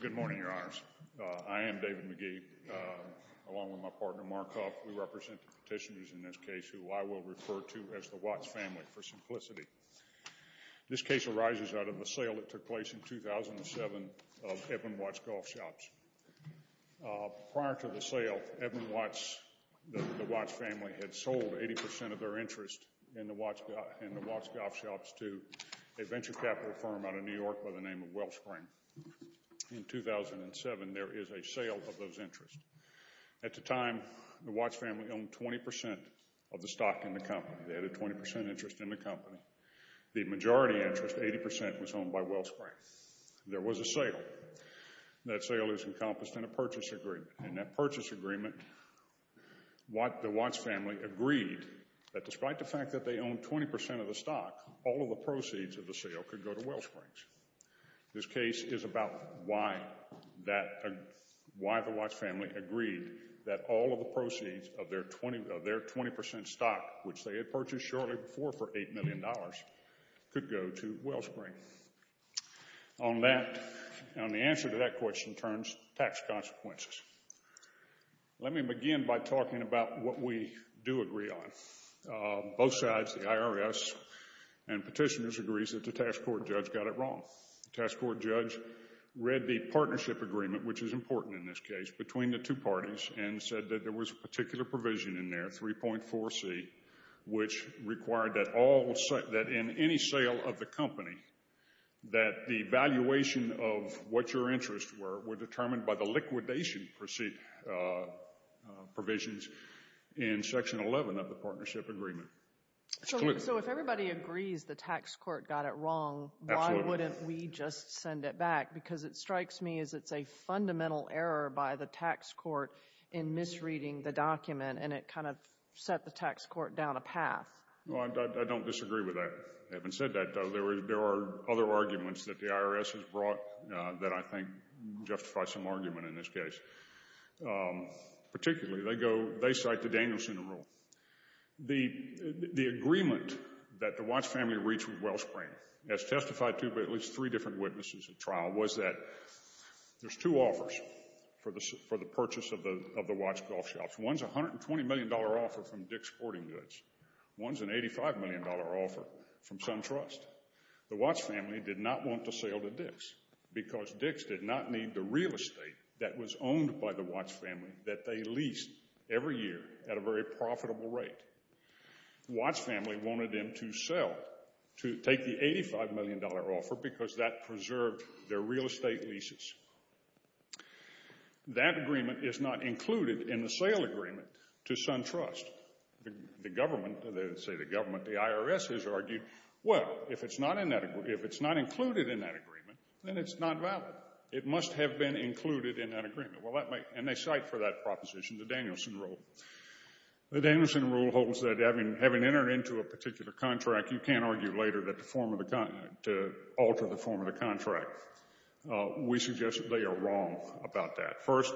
Good morning, your honors. I am David McGee, along with my partner Mark Huff. We represent the petitioners in this case who I will refer to as the Watts family for simplicity. This case arises out of a sale that took place in 2007 of Edmund Watts Golf Shops. Prior to the sale, Edmund Watts, the Watts family, had sold 80% of their interest in the Watts Golf Shops to a venture capital firm out of New York by the name of Wellspring. In 2007, there is a sale of those interests. At the time, the Watts family owned 20% of the stock in the company. They had a 20% interest in the company. The majority interest, 80%, was accomplished in a purchase agreement. In that purchase agreement, the Watts family agreed that despite the fact that they owned 20% of the stock, all of the proceeds of the sale could go to Wellsprings. This case is about why the Watts family agreed that all of the proceeds of their 20% stock, which they had purchased shortly before for $8 million, could go to Wellspring. On that, on the answer to that question in terms of tax consequences, let me begin by talking about what we do agree on. Both sides, the IRS and petitioners, agrees that the task court judge got it wrong. The task court judge read the partnership agreement, which is important in this case, between the two parties and said that there was a particular provision in there, 3.4C, which required that in any sale of the company, that the valuation of what your interests were, were determined by the liquidation provisions in section 11 of the partnership agreement. It's clear. So if everybody agrees the tax court got it wrong, why wouldn't we just send it back? Because it strikes me as it's a fundamental error by the tax court in misreading the document, and it kind of set the tax court down a path. Well, I don't disagree with that. Having said that, there are other arguments that the IRS has brought that I think justify some argument in this case. Particularly, they go, they cite the Danielson rule. The agreement that the Watts family reached with Wellspring, as testified to by at least three different witnesses at trial, was that there's two offers for the purchase of the Watts golf shops. One's a $120 million offer from Dick's Sporting Goods. One's an $85 million offer from SunTrust. The Watts family did not want to sell to Dick's because Dick's did not need the real estate that was owned by the Watts family that they leased every year at a very profitable rate. The Watts family wanted them to sell, to take the $85 million offer because that preserved their real estate leases. That agreement is not included in the sale agreement to SunTrust. The government, they say the government, the IRS has argued, well, if it's not included in that agreement, then it's not valid. It must have been included in that agreement. And they cite for that proposition the Danielson rule. The Danielson rule holds that having entered into a particular contract, you can't argue later that the form of the, to alter the form of the contract. We suggest that they are wrong about that. First,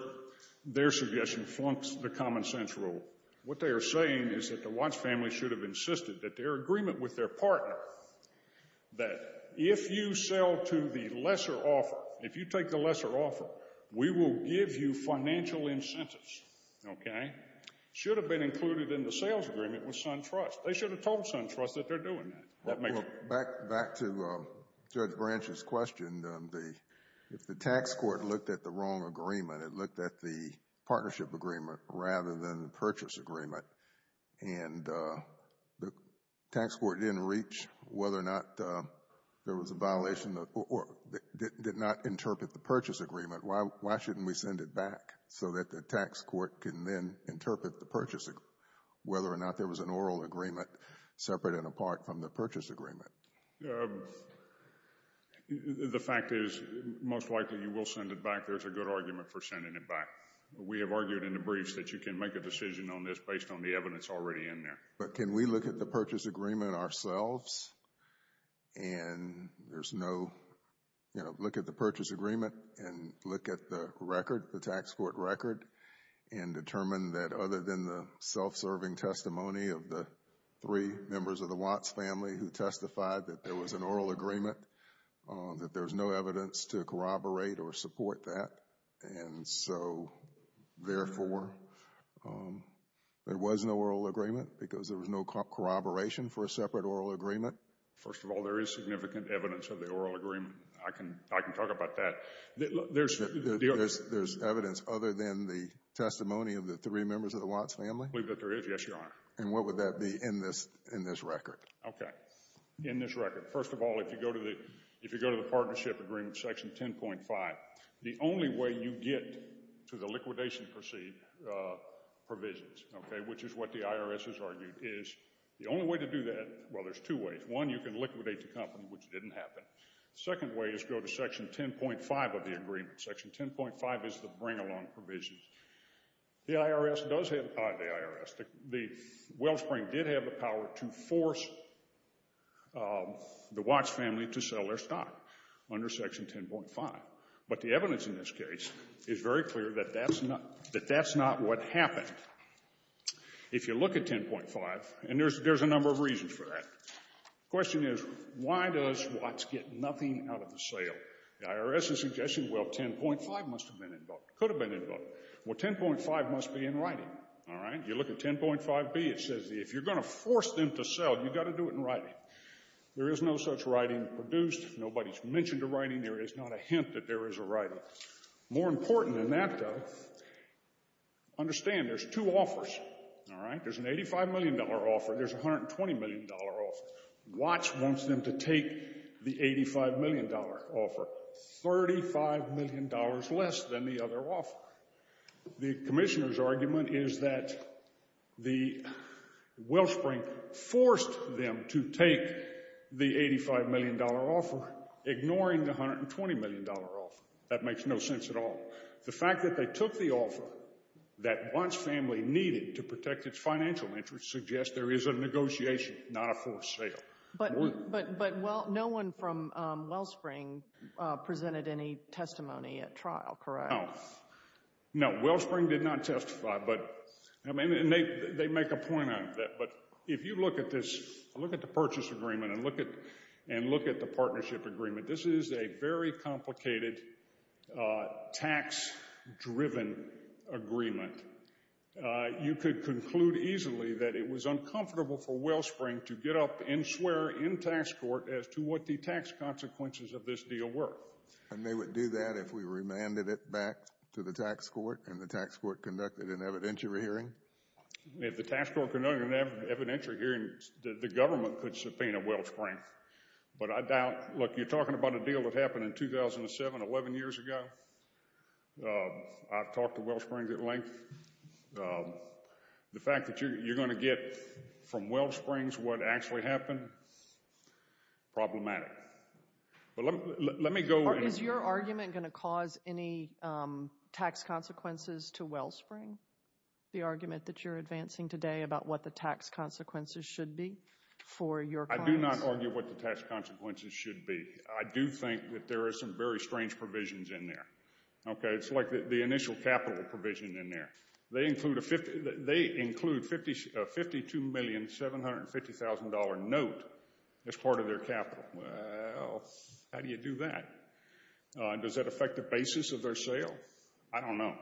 their suggestion flunks the common sense rule. What they are saying is that the Watts family should have insisted that their agreement with their partner, that if you sell to the lesser offer, if you take the lesser offer, we will give you financial incentives, okay, should have been included in the sales agreement with SunTrust. They should have told SunTrust that they're doing that. Back to Judge Branch's question, if the tax court looked at the wrong agreement, it looked at the partnership agreement rather than the purchase agreement, and the tax court didn't reach whether or not there was a violation or did not interpret the purchase agreement, why shouldn't we send it back so that the tax court can then interpret the purchase whether or not there was an oral agreement separate and apart from the purchase agreement? The fact is most likely you will send it back. There's a good argument for sending it back. We have argued in the briefs that you can make a decision on this based on the evidence already in there. But can we look at the purchase agreement ourselves and there's no, you know, look at the purchase agreement and look at the record, the tax court record, and determine that other than the self-serving testimony of the three members of the Watts family who testified that there was an oral agreement, that there's no evidence to corroborate or support that. And so, therefore, there was no oral agreement because there was no corroboration for a separate oral agreement. First of all, there is significant evidence of the oral agreement. I can talk about that. There's evidence other than the testimony of the three members of the Watts family? I believe that there is, yes, your honor. And what would that be in this record? Okay, in this record. First of all, if you go to the partnership agreement, section 10.5, the only way you get to the liquidation provisions, okay, which is what the IRS has argued, is the only way to do that, well, there's two ways. One, you can liquidate the company which didn't happen. The second way is go to section 10.5 of the agreement. Section 10.5 is the bring-along provisions. The IRS does have the power, the wellspring did have the power to force the Watts family to sell their stock under section 10.5. But the evidence in this case is very clear that that's not what happened. If you look at 10.5, and there's a number of reasons for that. The question is, why does Watts get nothing out of the sale? The IRS is suggesting, well, 10.5 must have been invoked, could have been invoked. Well, 10.5 must be in writing, all right? You look at 10.5B, it says if you're going to force them to sell, you've got to do it in writing. There is no such writing produced. Nobody's mentioned a writing. There is not a hint that there is a writing. There's an $85 million offer. There's a $120 million offer. Watts wants them to take the $85 million offer. $35 million less than the other offer. The commissioner's argument is that the wellspring forced them to take the $85 million offer, ignoring the $120 million offer. That makes no sense at all. The fact that they took the offer that Watts' family needed to protect its financial interests suggests there is a negotiation, not a forced sale. But no one from Wellspring presented any testimony at trial, correct? No. No, Wellspring did not testify. And they make a point on it. But if you look at this, look at the purchase agreement, and look at the partnership agreement, this is a very complicated tax-driven agreement. You could conclude easily that it was uncomfortable for Wellspring to get up and swear in tax court as to what the tax consequences of this deal were. And they would do that if we remanded it back to the tax court and the tax court conducted an evidentiary hearing? If the tax court conducted an evidentiary hearing, the government could subpoena Wellspring. But I doubt... Look, you're talking about a deal that happened in 2007, 11 years ago? I've talked to Wellsprings at length. The fact that you're going to get from Wellsprings what actually happened? Problematic. But let me go... Is your argument going to cause any tax consequences to Wellspring? The argument that you're advancing today about what the tax consequences should be for your clients? I do not argue what the tax consequences should be. I do think that there are some very strange provisions in there. It's like the initial capital provision in there. They include a $52,750,000 note as part of their capital. Well, how do you do that? Does that affect the basis of their sale? I don't know.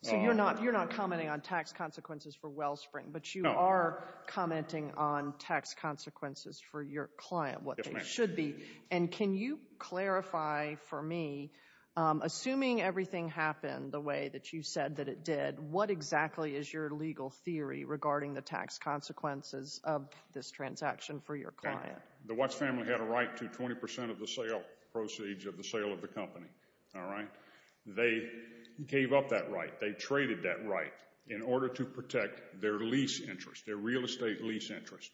So you're not commenting on tax consequences for Wellspring, but you are commenting on tax consequences for your client, what they should be. And can you clarify for me, assuming everything happened the way that you said that it did, what exactly is your legal theory regarding the tax consequences of this transaction for your client? The Watts family had a right to 20% of the sale, proceeds of the sale of the company, all right? They gave up that right. They traded that right in order to protect their lease interest, their real estate lease interest.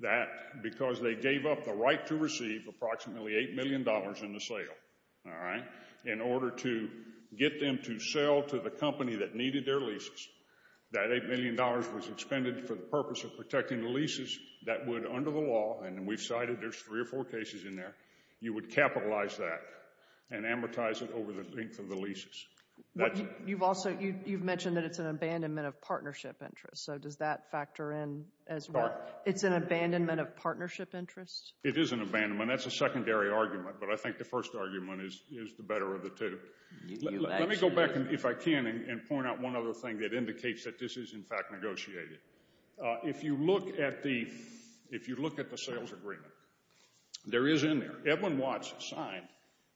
That, because they gave up the right to receive approximately $8 million in the sale, all right, in order to get them to sell to the company that needed their leases. That $8 million was expended for the purpose of protecting the leases that would, under the law, and we've cited there's three or four cases in there, you would capitalize that and amortize it over the length of the leases. You've also, you've mentioned that it's an abandonment of partnership interest, so does that factor in as well? It's an abandonment of partnership interest? It is an abandonment. That's a secondary argument, but I think the first argument is the better of the two. Let me go back, if I can, and point out one other thing that indicates that this is, in fact, negotiated. If you look at the, if you look at the sales agreement, there is in there, Edwin Watts signed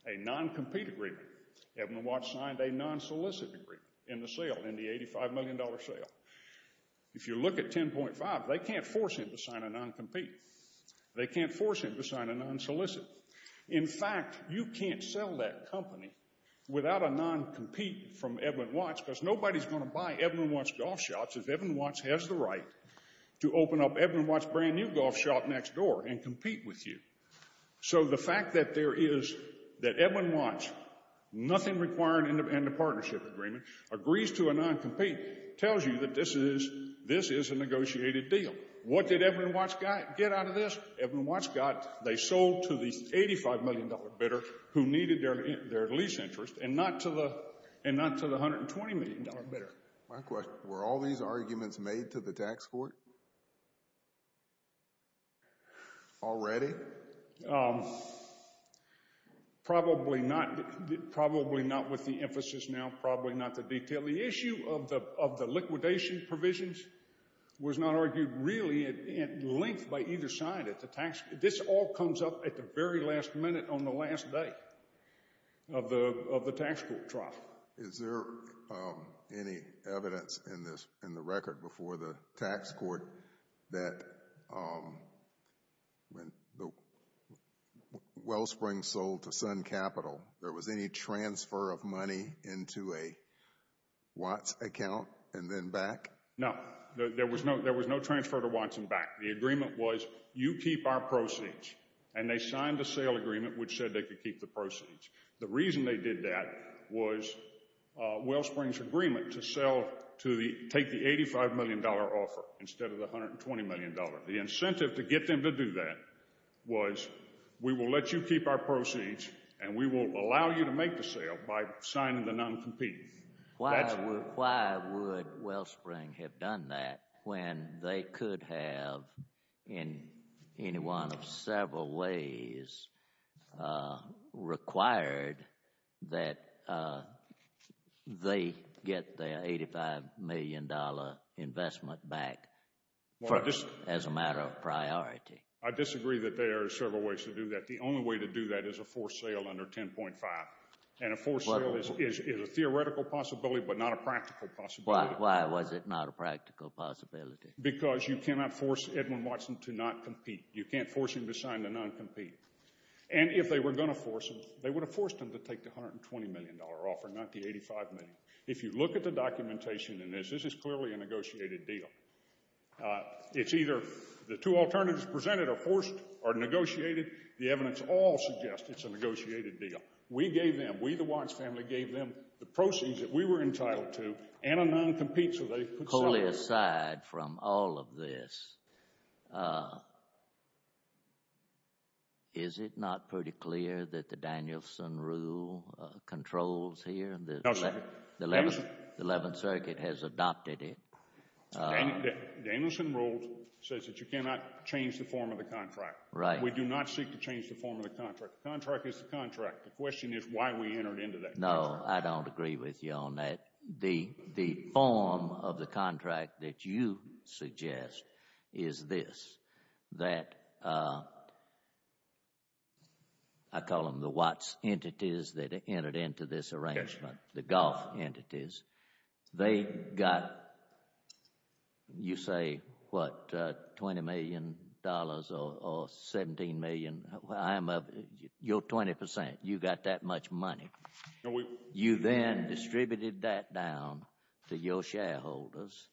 a non-compete agreement. Edwin Watts signed a non-solicit agreement in the sale, in the $85 million sale. If you look at 10.5, they can't force him to sign a non-compete. They can't force him to sign a non-solicit. In fact, you can't sell that company without a non-compete from Edwin Watts because nobody's going to buy Edwin Watts Golf Shops if Edwin Watts has the right to open up Edwin Watts' brand new golf shop next door and compete with you. So the fact that there is, that Edwin Watts, nothing required in the partnership agreement, agrees to a non-compete tells you that this is, this is a negotiated deal. What did Edwin Watts get out of this? Edwin Watts got, they sold to the $85 million bidder who needed their lease interest and not to the, and not to the $120 million bidder. My question, were all these arguments made to the tax court already? Probably not, probably not with the emphasis now, probably not the detail. The issue of the liquidation provisions was not argued really at length by either side at the tax, this all comes up at the very last minute on the last day of the tax court trial. Is there any evidence in this, in the record before the tax court that when Wellsprings sold to Sun Capital, there was any transfer of money into a Watts account and then back? No, there was no, there was no transfer to Watts and back. The agreement was you keep our proceeds. And they signed a sale agreement which said they could keep the proceeds. The reason they did that was Wellsprings' agreement to sell to the, take the $85 million offer instead of the $120 million. The incentive to get them to do that was we will let you keep our proceeds and we will allow you to make the sale by signing the non-competing. Why would Wellsprings have done that when they could have in any one of several ways required that they get their $85 million investment back as a matter of priority? I disagree that there are several ways to do that. The only way to do that is a forced sale under 10.5. And a forced sale is a theoretical possibility but not a practical possibility. Why was it not a practical possibility? Because you cannot force Edwin Watson to not compete. You can't force him to sign the non-compete. And if they were going to force him, they would have forced him to take the $120 million offer, not the $85 million. If you look at the documentation in this, this is clearly a negotiated deal. It's either the two alternatives presented are forced or negotiated. The evidence all suggests it's a negotiated deal. We gave them, we the Watson family gave them the proceeds that we were entitled to and a non-compete so they could sell it. Totally aside from all of this, is it not pretty clear that the Danielson rule controls here? No, sir. The Eleventh Circuit has adopted it. Danielson rule says that you cannot change the form of the contract. We do not seek to change the form of the contract. The contract is the contract. The question is why we entered into that contract. No, I don't agree with you on that. The form of the contract that you suggest is this, that I call them the Watts entities that entered into this arrangement, the Goff entities. They got, you say, what, $20 million or $17 million? I'm of your 20%. You got that much money. You then distributed that down to your shareholders,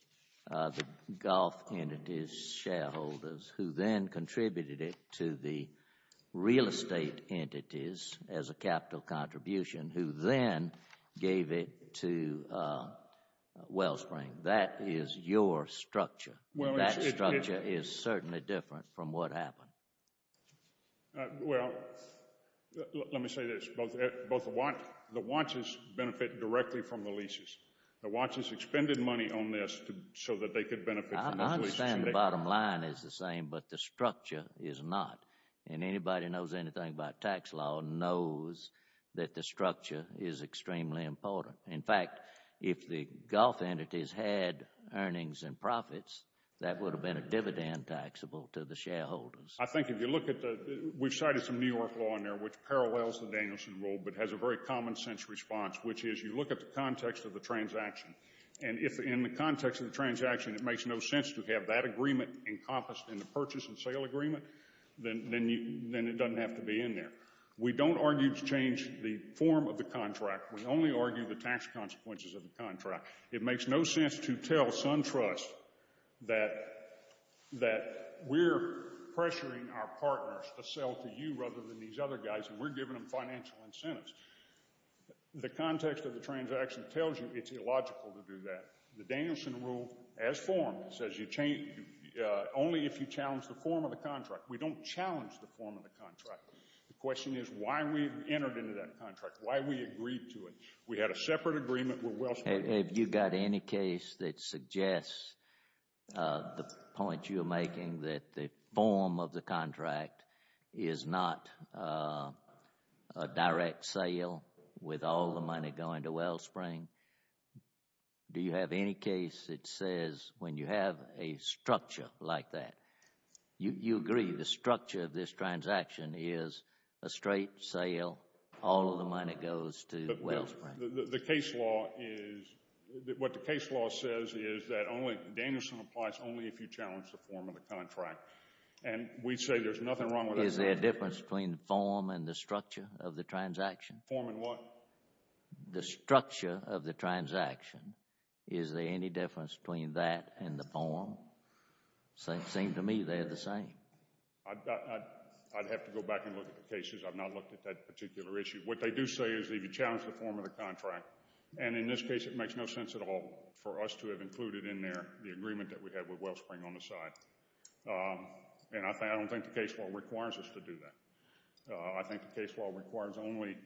the Goff entities shareholders, who then contributed it to the real estate entities as a capital contribution, who then gave it to Wellspring. That is your structure. That structure is certainly different from what happened. Well, let me say this. Both the Watts benefit directly from the leases. The Watts has expended money on this so that they could benefit from the leases. I understand the bottom line is the same, but the structure is not. And anybody who knows anything about tax law knows that the structure is extremely important. In fact, if the Goff entities had earnings and profits, that would have been a dividend taxable to the shareholders. I think if you look at the, we've cited some New York law in there which parallels the Danielson rule but has a very common sense response, which is you look at the context of the transaction. And if in the context of the transaction it makes no sense to have that agreement encompassed in the purchase and sale agreement, then it doesn't have to be in there. We don't argue to change the form of the contract. We only argue the tax consequences of the contract. It makes no sense to tell SunTrust that we're pressuring our partners to sell to you rather than these other guys, and we're giving them financial incentives. The context of the transaction tells you it's illogical to do that. The Danielson rule, as formed, says only if you challenge the form of the contract. We don't challenge the form of the contract. The question is why we've entered into that contract, why we agreed to it. We had a separate agreement with Wells Fargo. Have you got any case that suggests the point you're making that the form of the contract is not a direct sale with all the money going to Wellspring? Do you have any case that says when you have a structure like that, you agree the structure of this transaction is a straight sale, all of the money goes to Wellspring? The case law is, what the case law says is that Danielson applies only if you challenge the form of the contract, and we say there's nothing wrong with that. Is there a difference between the form and the structure of the transaction? Form in what? The structure of the transaction. Is there any difference between that and the form? It seems to me they're the same. I'd have to go back and look at the cases. I've not looked at that particular issue. What they do say is that if you challenge the form of the contract, and in this case it makes no sense at all for us to have included in there the agreement that we had with Wellspring on the side, and I don't think the case law requires us to do that. I think the case law requires only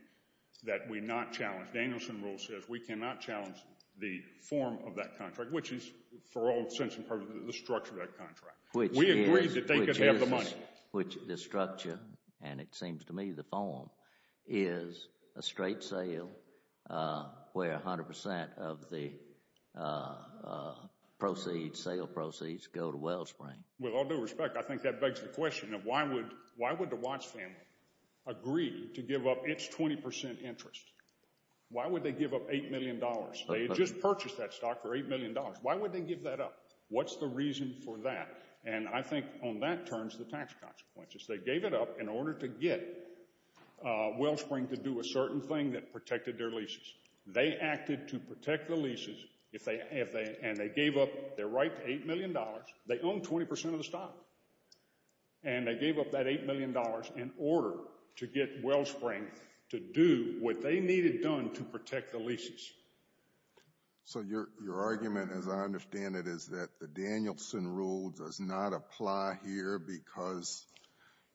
that we not challenge. Danielson rule says we cannot challenge the form of that contract, which is for all intents and purposes the structure of that contract. We agreed that they could have the money. The structure, and it seems to me the form, is a straight sale where 100% of the proceeds, sale proceeds, go to Wellspring. With all due respect, I think that begs the question of why would the Watts family agree to give up its 20% interest? Why would they give up $8 million? They had just purchased that stock for $8 million. Why would they give that up? What's the reason for that? And I think on that terms the tax consequences. They gave it up in order to get Wellspring to do a certain thing that protected their leases. They acted to protect the leases, and they gave up their right to $8 million. They owned 20% of the stock, and they gave up that $8 million in order to get Wellspring to do what they needed done to protect the leases. So your argument, as I understand it, is that the Danielson rule does not apply here because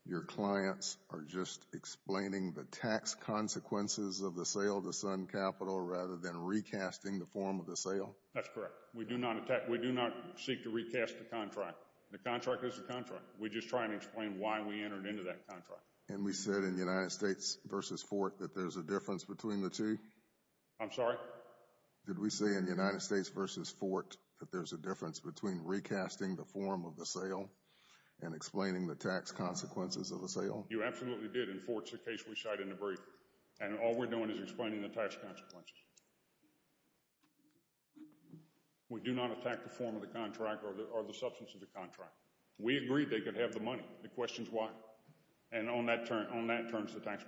your clients are just explaining the tax consequences of the sale to Sun Capital rather than recasting the form of the sale? That's correct. We do not seek to recast the contract. The contract is the contract. We're just trying to explain why we entered into that contract. And we said in United States v. Fort that there's a difference between the two? I'm sorry? Did we say in United States v. Fort that there's a difference between recasting the form of the sale and explaining the tax consequences of the sale? You absolutely did, and Fort's the case we shot in the brief. And all we're doing is explaining the tax consequences. We do not attack the form of the contract or the substance of the contract. We agreed they could have the money. The question's why? And on that terms, the tax consequences.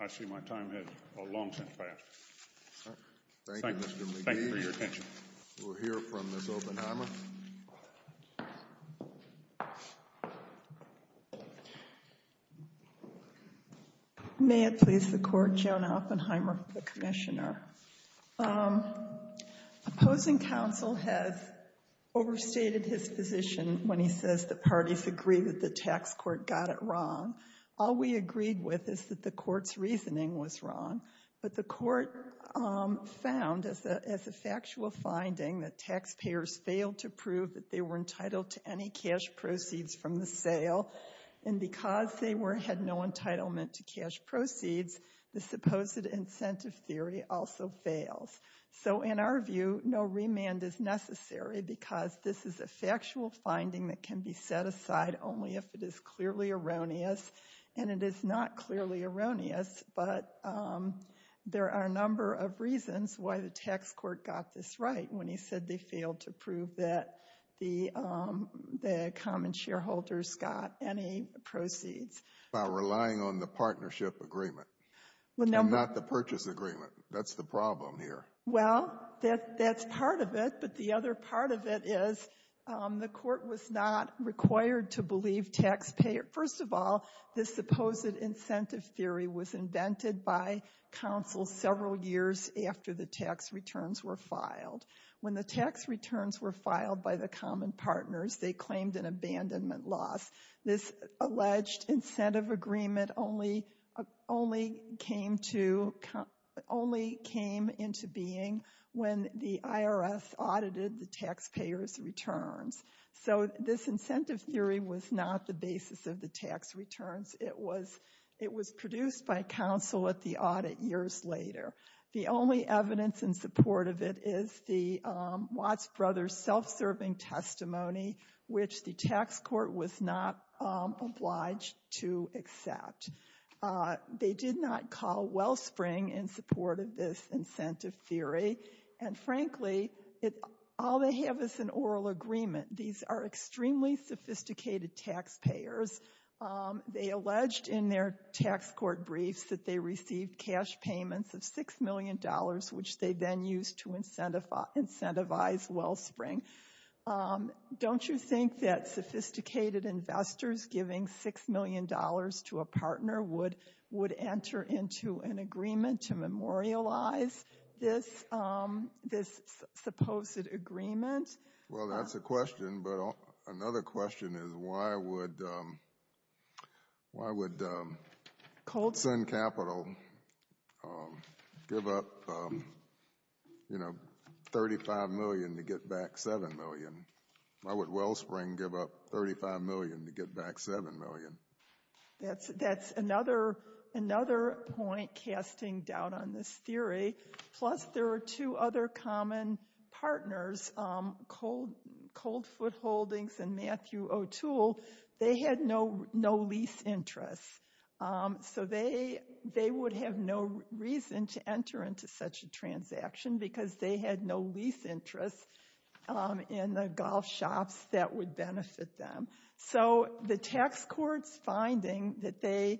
I see my time has long since passed. Thank you, Mr. McGee. Thank you for your attention. We'll hear from Ms. Oppenheimer. May it please the Court, Joan Oppenheimer, the Commissioner. Opposing counsel has overstated his position when he says the parties agree that the tax court got it wrong. All we agreed with is that the court's reasoning was wrong. But the court found, as a factual finding, that taxpayers failed to prove that they were entitled to any cash proceeds from the sale. And because they had no entitlement to cash proceeds, the supposed incentive theory also fails. So in our view, no remand is necessary because this is a factual finding that can be set aside only if it is clearly erroneous. And it is not clearly erroneous, but there are a number of reasons why the tax court got this right when he said they failed to prove that the common shareholders got any proceeds. By relying on the partnership agreement and not the purchase agreement. That's the problem here. Well, that's part of it. But the other part of it is the court was not required to believe taxpayers. First of all, this supposed incentive theory was invented by counsel several years after the tax returns were filed. When the tax returns were filed by the common partners, they claimed an abandonment loss. This alleged incentive agreement only came into being when the IRS audited the taxpayers' returns. So this incentive theory was not the basis of the tax returns. It was produced by counsel at the audit years later. The only evidence in support of it is the Watts brothers' self-serving testimony, which the tax court was not obliged to accept. They did not call Wellspring in support of this incentive theory. And frankly, all they have is an oral agreement. These are extremely sophisticated taxpayers. They alleged in their tax court briefs that they received cash payments of $6 million, which they then used to incentivize Wellspring. Don't you think that sophisticated investors giving $6 million to a partner would enter into an agreement to memorialize this supposed agreement? Well, that's a question, but another question is why would Sun Capital give up $35 million to get back $7 million? Why would Wellspring give up $35 million to get back $7 million? That's another point casting doubt on this theory. Plus, there are two other common partners, Coldfoot Holdings and Matthew O'Toole. They had no lease interest, so they would have no reason to enter into such a transaction because they had no lease interest in the golf shops that would benefit them. So the tax court's finding that the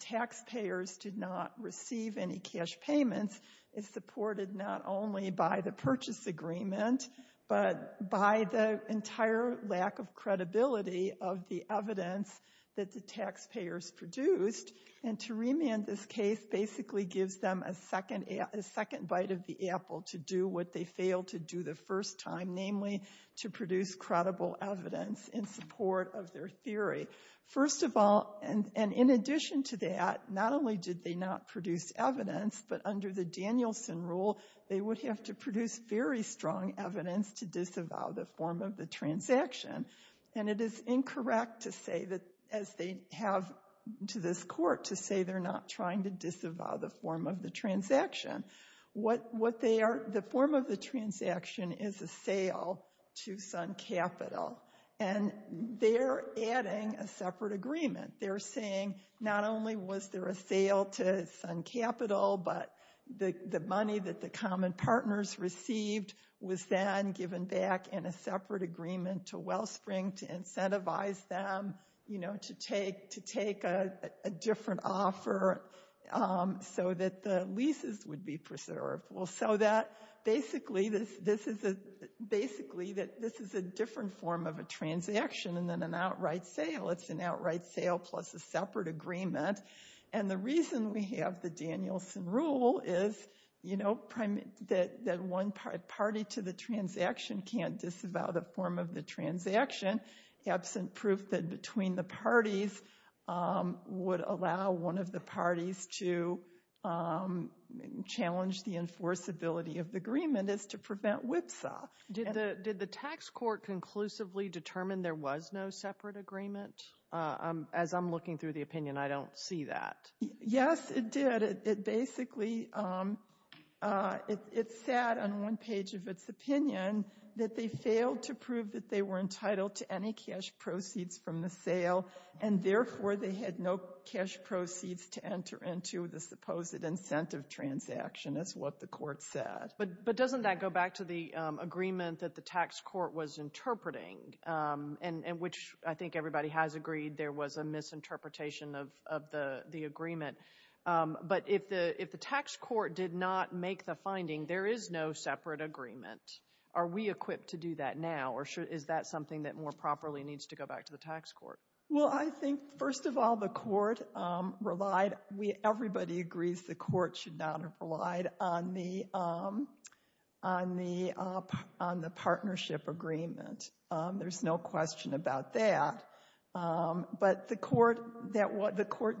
taxpayers did not receive any cash payments is supported not only by the purchase agreement, but by the entire lack of credibility of the evidence that the taxpayers produced. And to remand this case basically gives them a second bite of the apple to do what they failed to do the first time, namely to produce credible evidence in support of their theory. First of all, and in addition to that, not only did they not produce evidence, but under the Danielson rule, they would have to produce very strong evidence to disavow the form of the transaction. And it is incorrect to say that, as they have to this court, to say they're not trying to disavow the form of the transaction. The form of the transaction is a sale to Sun Capital, and they're adding a separate agreement. They're saying not only was there a sale to Sun Capital, but the money that the common partners received was then given back in a separate agreement to Wellspring to incentivize them to take a different offer so that the leases would be preserved. Well, so that basically this is a different form of a transaction than an outright sale. It's an outright sale plus a separate agreement. And the reason we have the Danielson rule is that one party to the transaction can't disavow the form of the transaction absent proof that between the parties would allow one of the parties to challenge the enforceability of the agreement is to prevent whipsaw. Did the tax court conclusively determine there was no separate agreement? As I'm looking through the opinion, I don't see that. Yes, it did. But it basically, it said on one page of its opinion that they failed to prove that they were entitled to any cash proceeds from the sale, and therefore they had no cash proceeds to enter into the supposed incentive transaction is what the court said. But doesn't that go back to the agreement that the tax court was interpreting, in which I think everybody has agreed there was a misinterpretation of the agreement. But if the tax court did not make the finding, there is no separate agreement. Are we equipped to do that now, or is that something that more properly needs to go back to the tax court? Well, I think, first of all, the court relied. Everybody agrees the court should not have relied on the partnership agreement. There's no question about that. But the court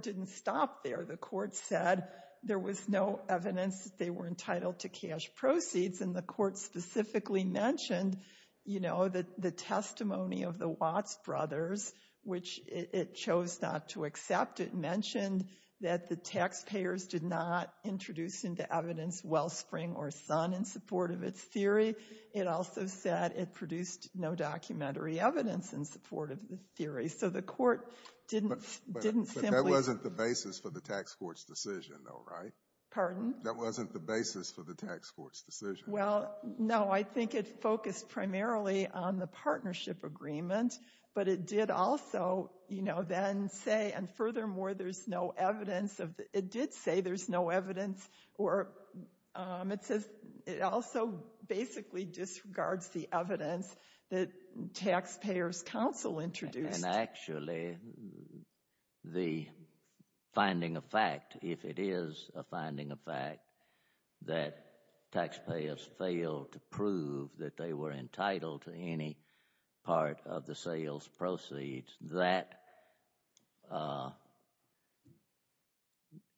didn't stop there. The court said there was no evidence that they were entitled to cash proceeds, and the court specifically mentioned the testimony of the Watts brothers, which it chose not to accept. It mentioned that the taxpayers did not introduce into evidence wellspring or son in support of its theory. It also said it produced no documentary evidence in support of the theory. So the court didn't simply — But that wasn't the basis for the tax court's decision, though, right? Pardon? That wasn't the basis for the tax court's decision. Well, no. I think it focused primarily on the partnership agreement. But it did also, you know, then say, and furthermore, there's no evidence of the — It also basically disregards the evidence that taxpayers' counsel introduced. And actually, the finding of fact, if it is a finding of fact, that taxpayers failed to prove that they were entitled to any part of the sales proceeds, that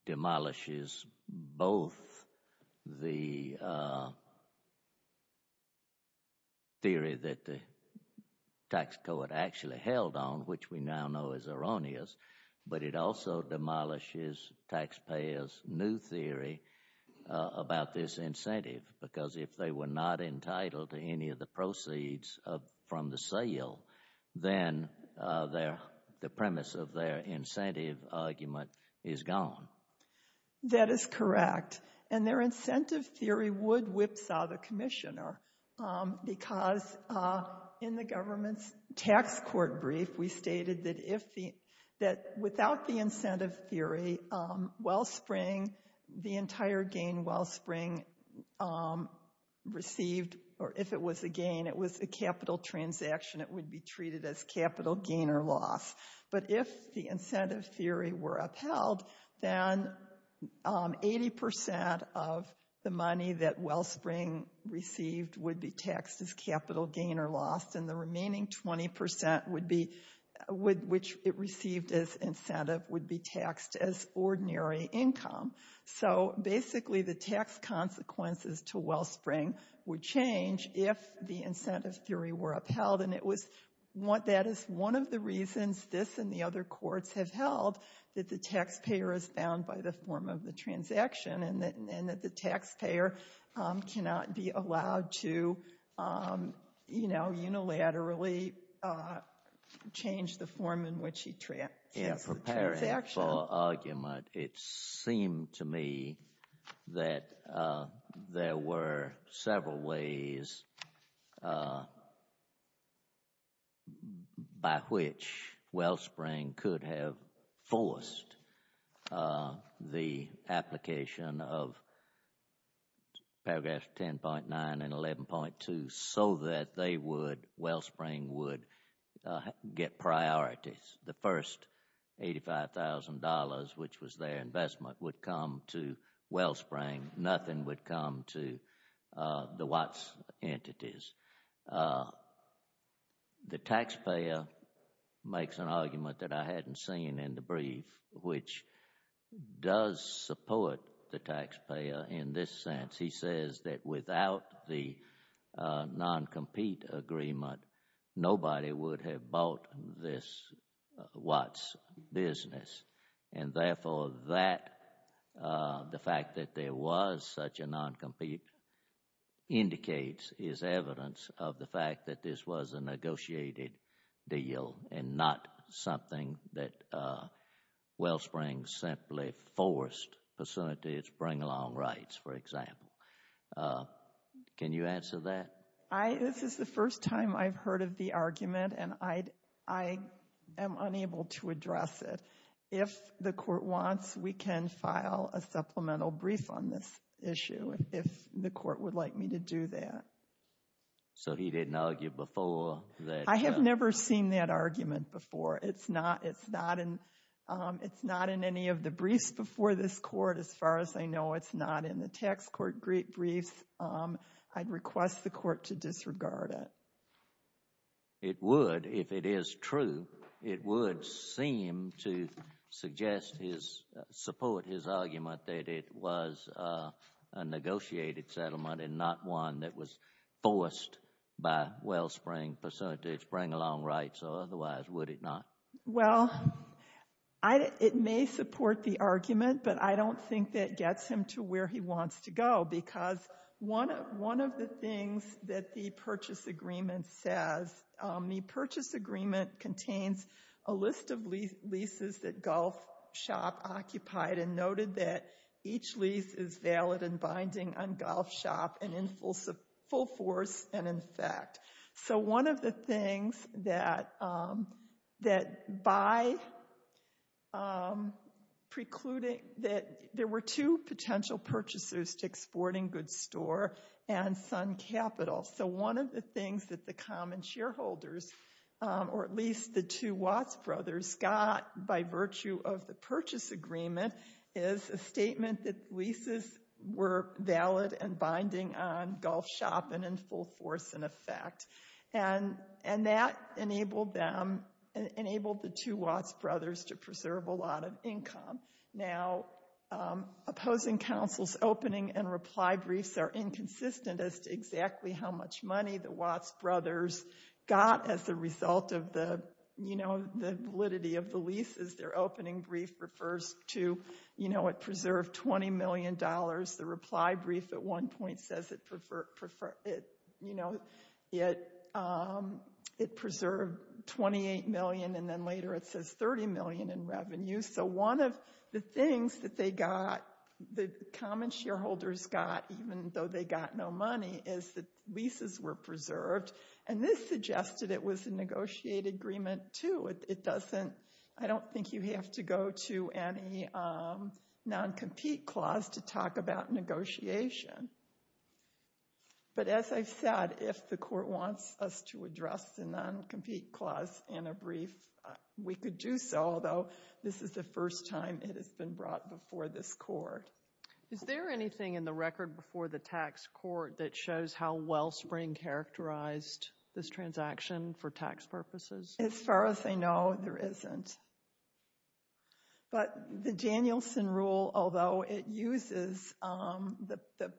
demolishes both the theory that the tax court actually held on, which we now know is erroneous, but it also demolishes taxpayers' new theory about this incentive, because if they were not entitled to any of the proceeds from the sale, then the premise of their incentive argument is gone. That is correct. And their incentive theory would whipsaw the commissioner, because in the government's tax court brief, we stated that without the incentive theory, Wellspring, the entire gain, Wellspring received — or if it was a gain, it was a capital transaction, it would be treated as capital gain or loss. But if the incentive theory were upheld, then 80 percent of the money that Wellspring received would be taxed as capital gain or loss, and the remaining 20 percent would be — which it received as incentive would be taxed as ordinary income. So basically, the tax consequences to Wellspring would change if the incentive theory were upheld, and it was — that is one of the reasons this and the other courts have held that the taxpayer is bound by the form of the transaction and that the taxpayer cannot be allowed to, you know, unilaterally change the form in which he has the transaction. In the whipsaw argument, it seemed to me that there were several ways by which Wellspring could have forced the application of paragraphs 10.9 and 11.2 so that they would — Wellspring would get priorities. The first $85,000, which was their investment, would come to Wellspring. Nothing would come to the Watts entities. The taxpayer makes an argument that I hadn't seen in the brief, which does support the taxpayer in this sense. He says that without the non-compete agreement, nobody would have bought this Watts business, and therefore that — the fact that there was such a non-compete indicates — is evidence of the fact that this was a negotiated deal and not something that Wellspring simply forced. It's bring along rights, for example. Can you answer that? This is the first time I've heard of the argument, and I am unable to address it. If the court wants, we can file a supplemental brief on this issue if the court would like me to do that. So he didn't argue before that — I have never seen that argument before. It's not in any of the briefs before this court. As far as I know, it's not in the tax court briefs. I'd request the court to disregard it. It would, if it is true. It would seem to suggest his — support his argument that it was a negotiated settlement and not one that was forced by Wellspring to bring along rights or otherwise, would it not? Well, it may support the argument, but I don't think that gets him to where he wants to go because one of the things that the purchase agreement says — the purchase agreement contains a list of leases that Gulf Shop occupied and noted that each lease is valid and binding on Gulf Shop and in full force and in fact. So one of the things that by precluding — that there were two potential purchasers to Exporting Goods Store and Sun Capital. So one of the things that the common shareholders, or at least the two Watts brothers, got by virtue of the purchase agreement is a statement that leases were valid and binding on Gulf Shop and in full force and effect. And that enabled them — enabled the two Watts brothers to preserve a lot of income. Now, opposing counsel's opening and reply briefs are inconsistent as to exactly how much money the Watts brothers got as a result of the validity of the leases. Their opening brief refers to it preserved $20 million. The reply brief at one point says it preserved $28 million and then later it says $30 million in revenue. So one of the things that they got, the common shareholders got, even though they got no money, is that leases were preserved. And this suggested it was a negotiated agreement too. It doesn't — I don't think you have to go to any non-compete clause to talk about negotiation. But as I've said, if the court wants us to address the non-compete clause in a brief, we could do so. Although, this is the first time it has been brought before this court. Is there anything in the record before the tax court that shows how Wellspring characterized this transaction for tax purposes? As far as I know, there isn't. But the Danielson rule, although it uses the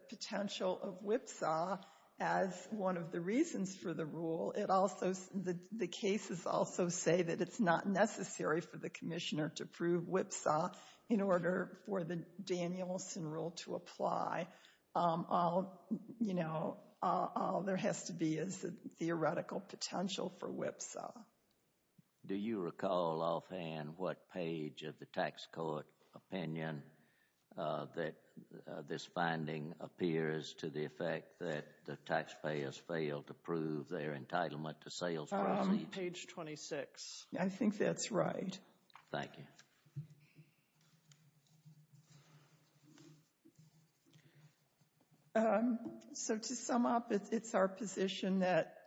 potential of WIPSA as one of the reasons for the rule, it also — the cases also say that it's not necessary for the commissioner to prove WIPSA in order for the Danielson rule to apply. All, you know, all there has to be is the theoretical potential for WIPSA. Do you recall offhand what page of the tax court opinion that this finding appears to the effect that the taxpayers failed to prove their entitlement to sales? Page 26. I think that's right. Thank you. So to sum up, it's our position that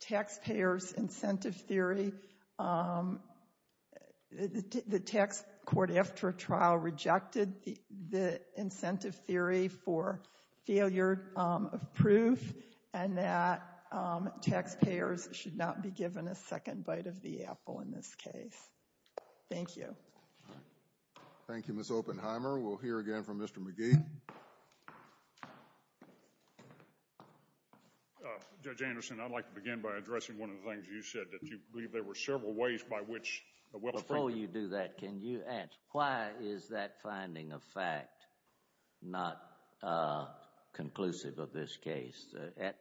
taxpayers' incentive theory — the tax court after a trial rejected the incentive theory for failure of proof and that taxpayers should not be given a second bite of the apple in this case. Thank you. Thank you, Ms. Oppenheimer. We'll hear again from Mr. McGee. Judge Anderson, I'd like to begin by addressing one of the things you said, that you believe there were several ways by which Wellspring — at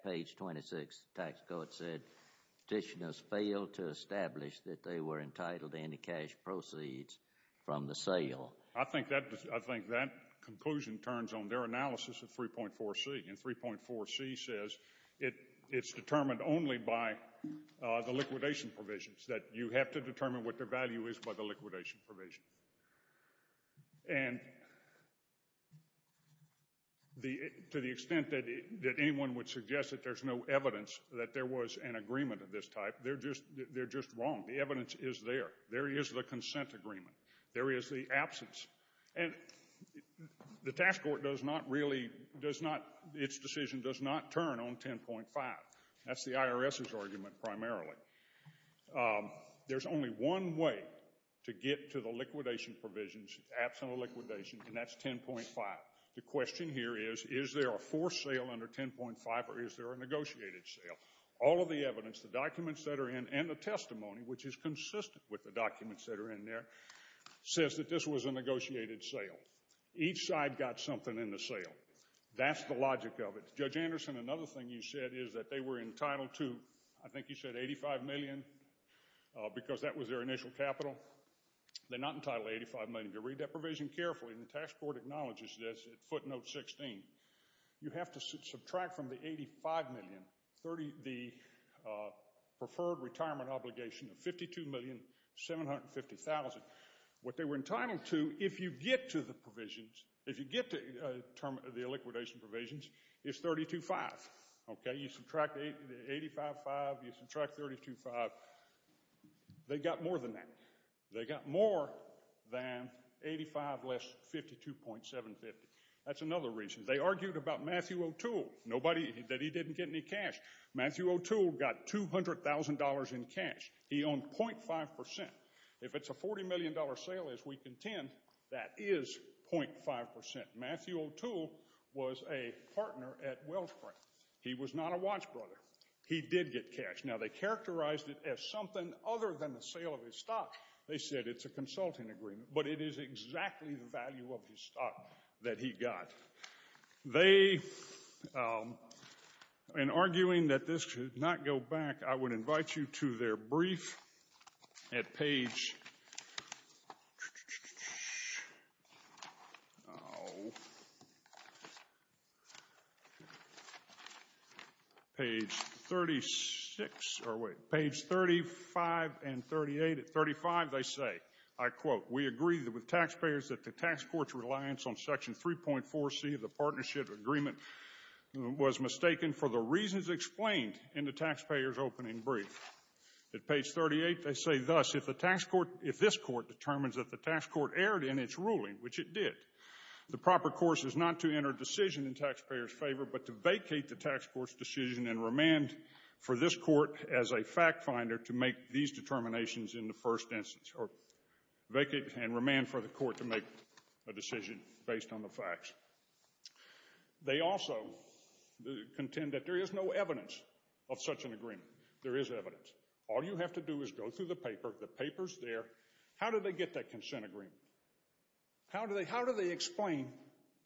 page 26, the tax court said petitioners failed to establish that they were entitled to any cash proceeds from the sale. I think that conclusion turns on their analysis of 3.4C, and 3.4C says it's determined only by the liquidation provisions, that you have to determine what their value is by the liquidation provision. And to the extent that anyone would suggest that there's no evidence that there was an agreement of this type, they're just wrong. The evidence is there. There is the consent agreement. There is the absence. And the tax court does not really — its decision does not turn on 10.5. That's the IRS's argument primarily. There's only one way to get to the liquidation provisions, absent of liquidation, and that's 10.5. The question here is, is there a forced sale under 10.5, or is there a negotiated sale? All of the evidence, the documents that are in, and the testimony, which is consistent with the documents that are in there, says that this was a negotiated sale. Each side got something in the sale. That's the logic of it. Judge Anderson, another thing you said is that they were entitled to, I think you said $85 million because that was their initial capital. They're not entitled to $85 million. If you read that provision carefully, and the tax court acknowledges this at footnote 16, you have to subtract from the $85 million the preferred retirement obligation of $52,750,000. What they were entitled to, if you get to the provisions, you subtract 85.5, you subtract 32.5. They got more than that. They got more than 85 less 52.750. That's another reason. They argued about Matthew O'Toole, that he didn't get any cash. Matthew O'Toole got $200,000 in cash. He owned 0.5%. If it's a $40 million sale, as we contend, that is 0.5%. Matthew O'Toole was a partner at Wells Fargo. He was not a watch brother. He did get cash. Now, they characterized it as something other than the sale of his stock. They said it's a consulting agreement. But it is exactly the value of his stock that he got. They, in arguing that this should not go back, I would invite you to their brief at page 36. Or wait. Page 35 and 38. At 35, they say, I quote, We agree with taxpayers that the tax court's reliance on section 3.4C of the partnership agreement was mistaken for the reasons explained in the taxpayer's opening brief. At page 38, they say thus, If this court determines that the tax court erred in its ruling, which it did, the proper course is not to enter decision in taxpayers' favor, but to vacate the tax court's decision and remand for this court as a fact finder to make these determinations in the first instance, or vacate and remand for the court to make a decision based on the facts. They also contend that there is no evidence of such an agreement. There is evidence. All you have to do is go through the paper. The paper's there. How do they get that consent agreement? How do they explain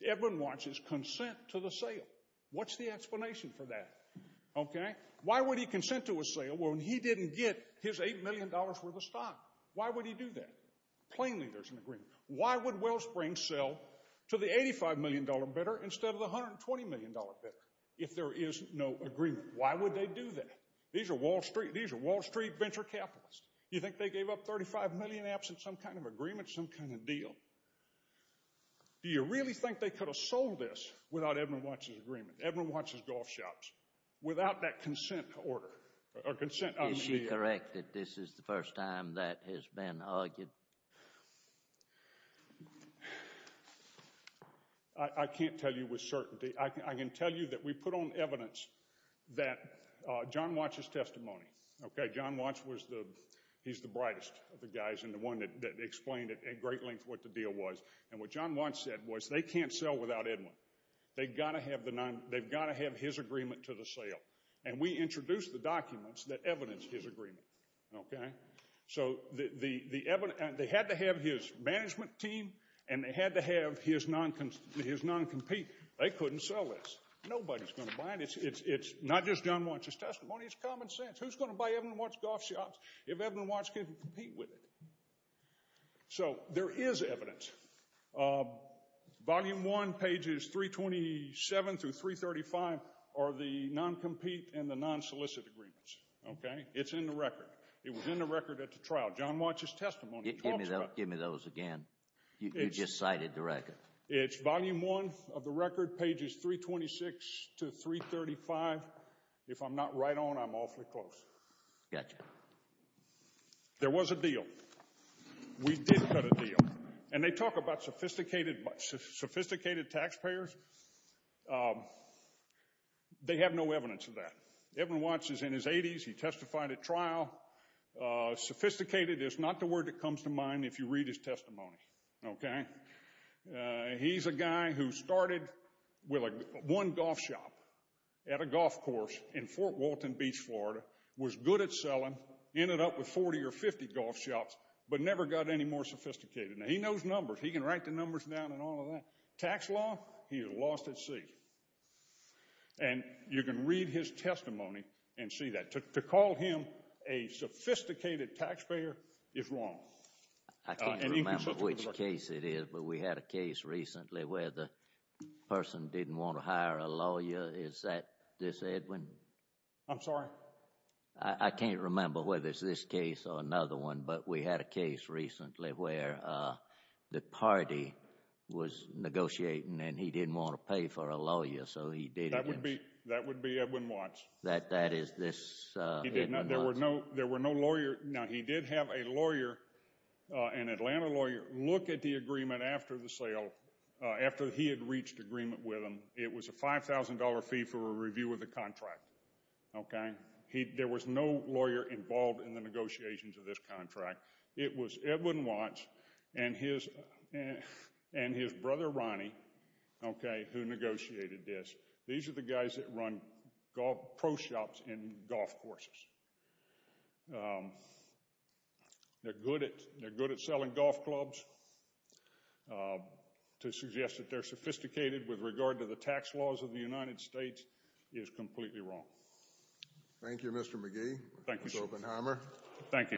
Edwin Watch's consent to the sale? What's the explanation for that? Okay. Why would he consent to a sale when he didn't get his $8 million worth of stock? Why would he do that? Plainly, there's an agreement. Why would Wellsprings sell to the $85 million bidder instead of the $120 million bidder if there is no agreement? Why would they do that? These are Wall Street venture capitalists. You think they gave up $35 million absent some kind of agreement, some kind of deal? Do you really think they could have sold this without Edwin Watch's agreement, Edwin Watch's golf shops, without that consent order or consent? Is she correct that this is the first time that has been argued? I can't tell you with certainty. I can tell you that we put on evidence that John Watch's testimony, okay, John Watch was the, he's the brightest of the guys and the one that explained at great length what the deal was, and what John Watch said was they can't sell without Edwin. They've got to have his agreement to the sale, and we introduced the documents that evidence his agreement, okay? So they had to have his management team and they had to have his non-compete. They couldn't sell this. Nobody's going to buy it. It's not just John Watch's testimony. It's common sense. Who's going to buy Edwin Watch's golf shops if Edwin Watch can't compete with it? So there is evidence. Volume 1, pages 327 through 335, are the non-compete and the non-solicit agreements, okay? It's in the record. It was in the record at the trial. John Watch's testimony talks about it. Give me those again. You just cited the record. It's volume 1 of the record, pages 326 to 335. If I'm not right on, I'm awfully close. Gotcha. There was a deal. We did cut a deal. And they talk about sophisticated taxpayers. They have no evidence of that. Edwin Watch is in his 80s. He testified at trial. Sophisticated is not the word that comes to mind if you read his testimony, okay? He's a guy who started with one golf shop at a golf course in Fort Walton Beach, Florida, was good at selling, ended up with 40 or 50 golf shops, but never got any more sophisticated. Now, he knows numbers. He can write the numbers down and all of that. Tax law, he is lost at sea. And you can read his testimony and see that. To call him a sophisticated taxpayer is wrong. I can't remember which case it is, but we had a case recently where the person didn't want to hire a lawyer. Is that this Edwin? I'm sorry? I can't remember whether it's this case or another one, but we had a case recently where the party was negotiating and he didn't want to pay for a lawyer, so he didn't. That would be Edwin Watch. That is this Edwin Watch. He did not. There were no lawyers. Now, he did have a lawyer, an Atlanta lawyer, look at the agreement after the sale, after he had reached agreement with him. It was a $5,000 fee for a review of the contract, okay? There was no lawyer involved in the negotiations of this contract. It was Edwin Watch and his brother, Ronnie, who negotiated this. These are the guys that run pro shops and golf courses. They're good at selling golf clubs. To suggest that they're sophisticated with regard to the tax laws of the United States is completely wrong. Thank you, Mr. McGee. Thank you, sir. Mr. Oppenheimer.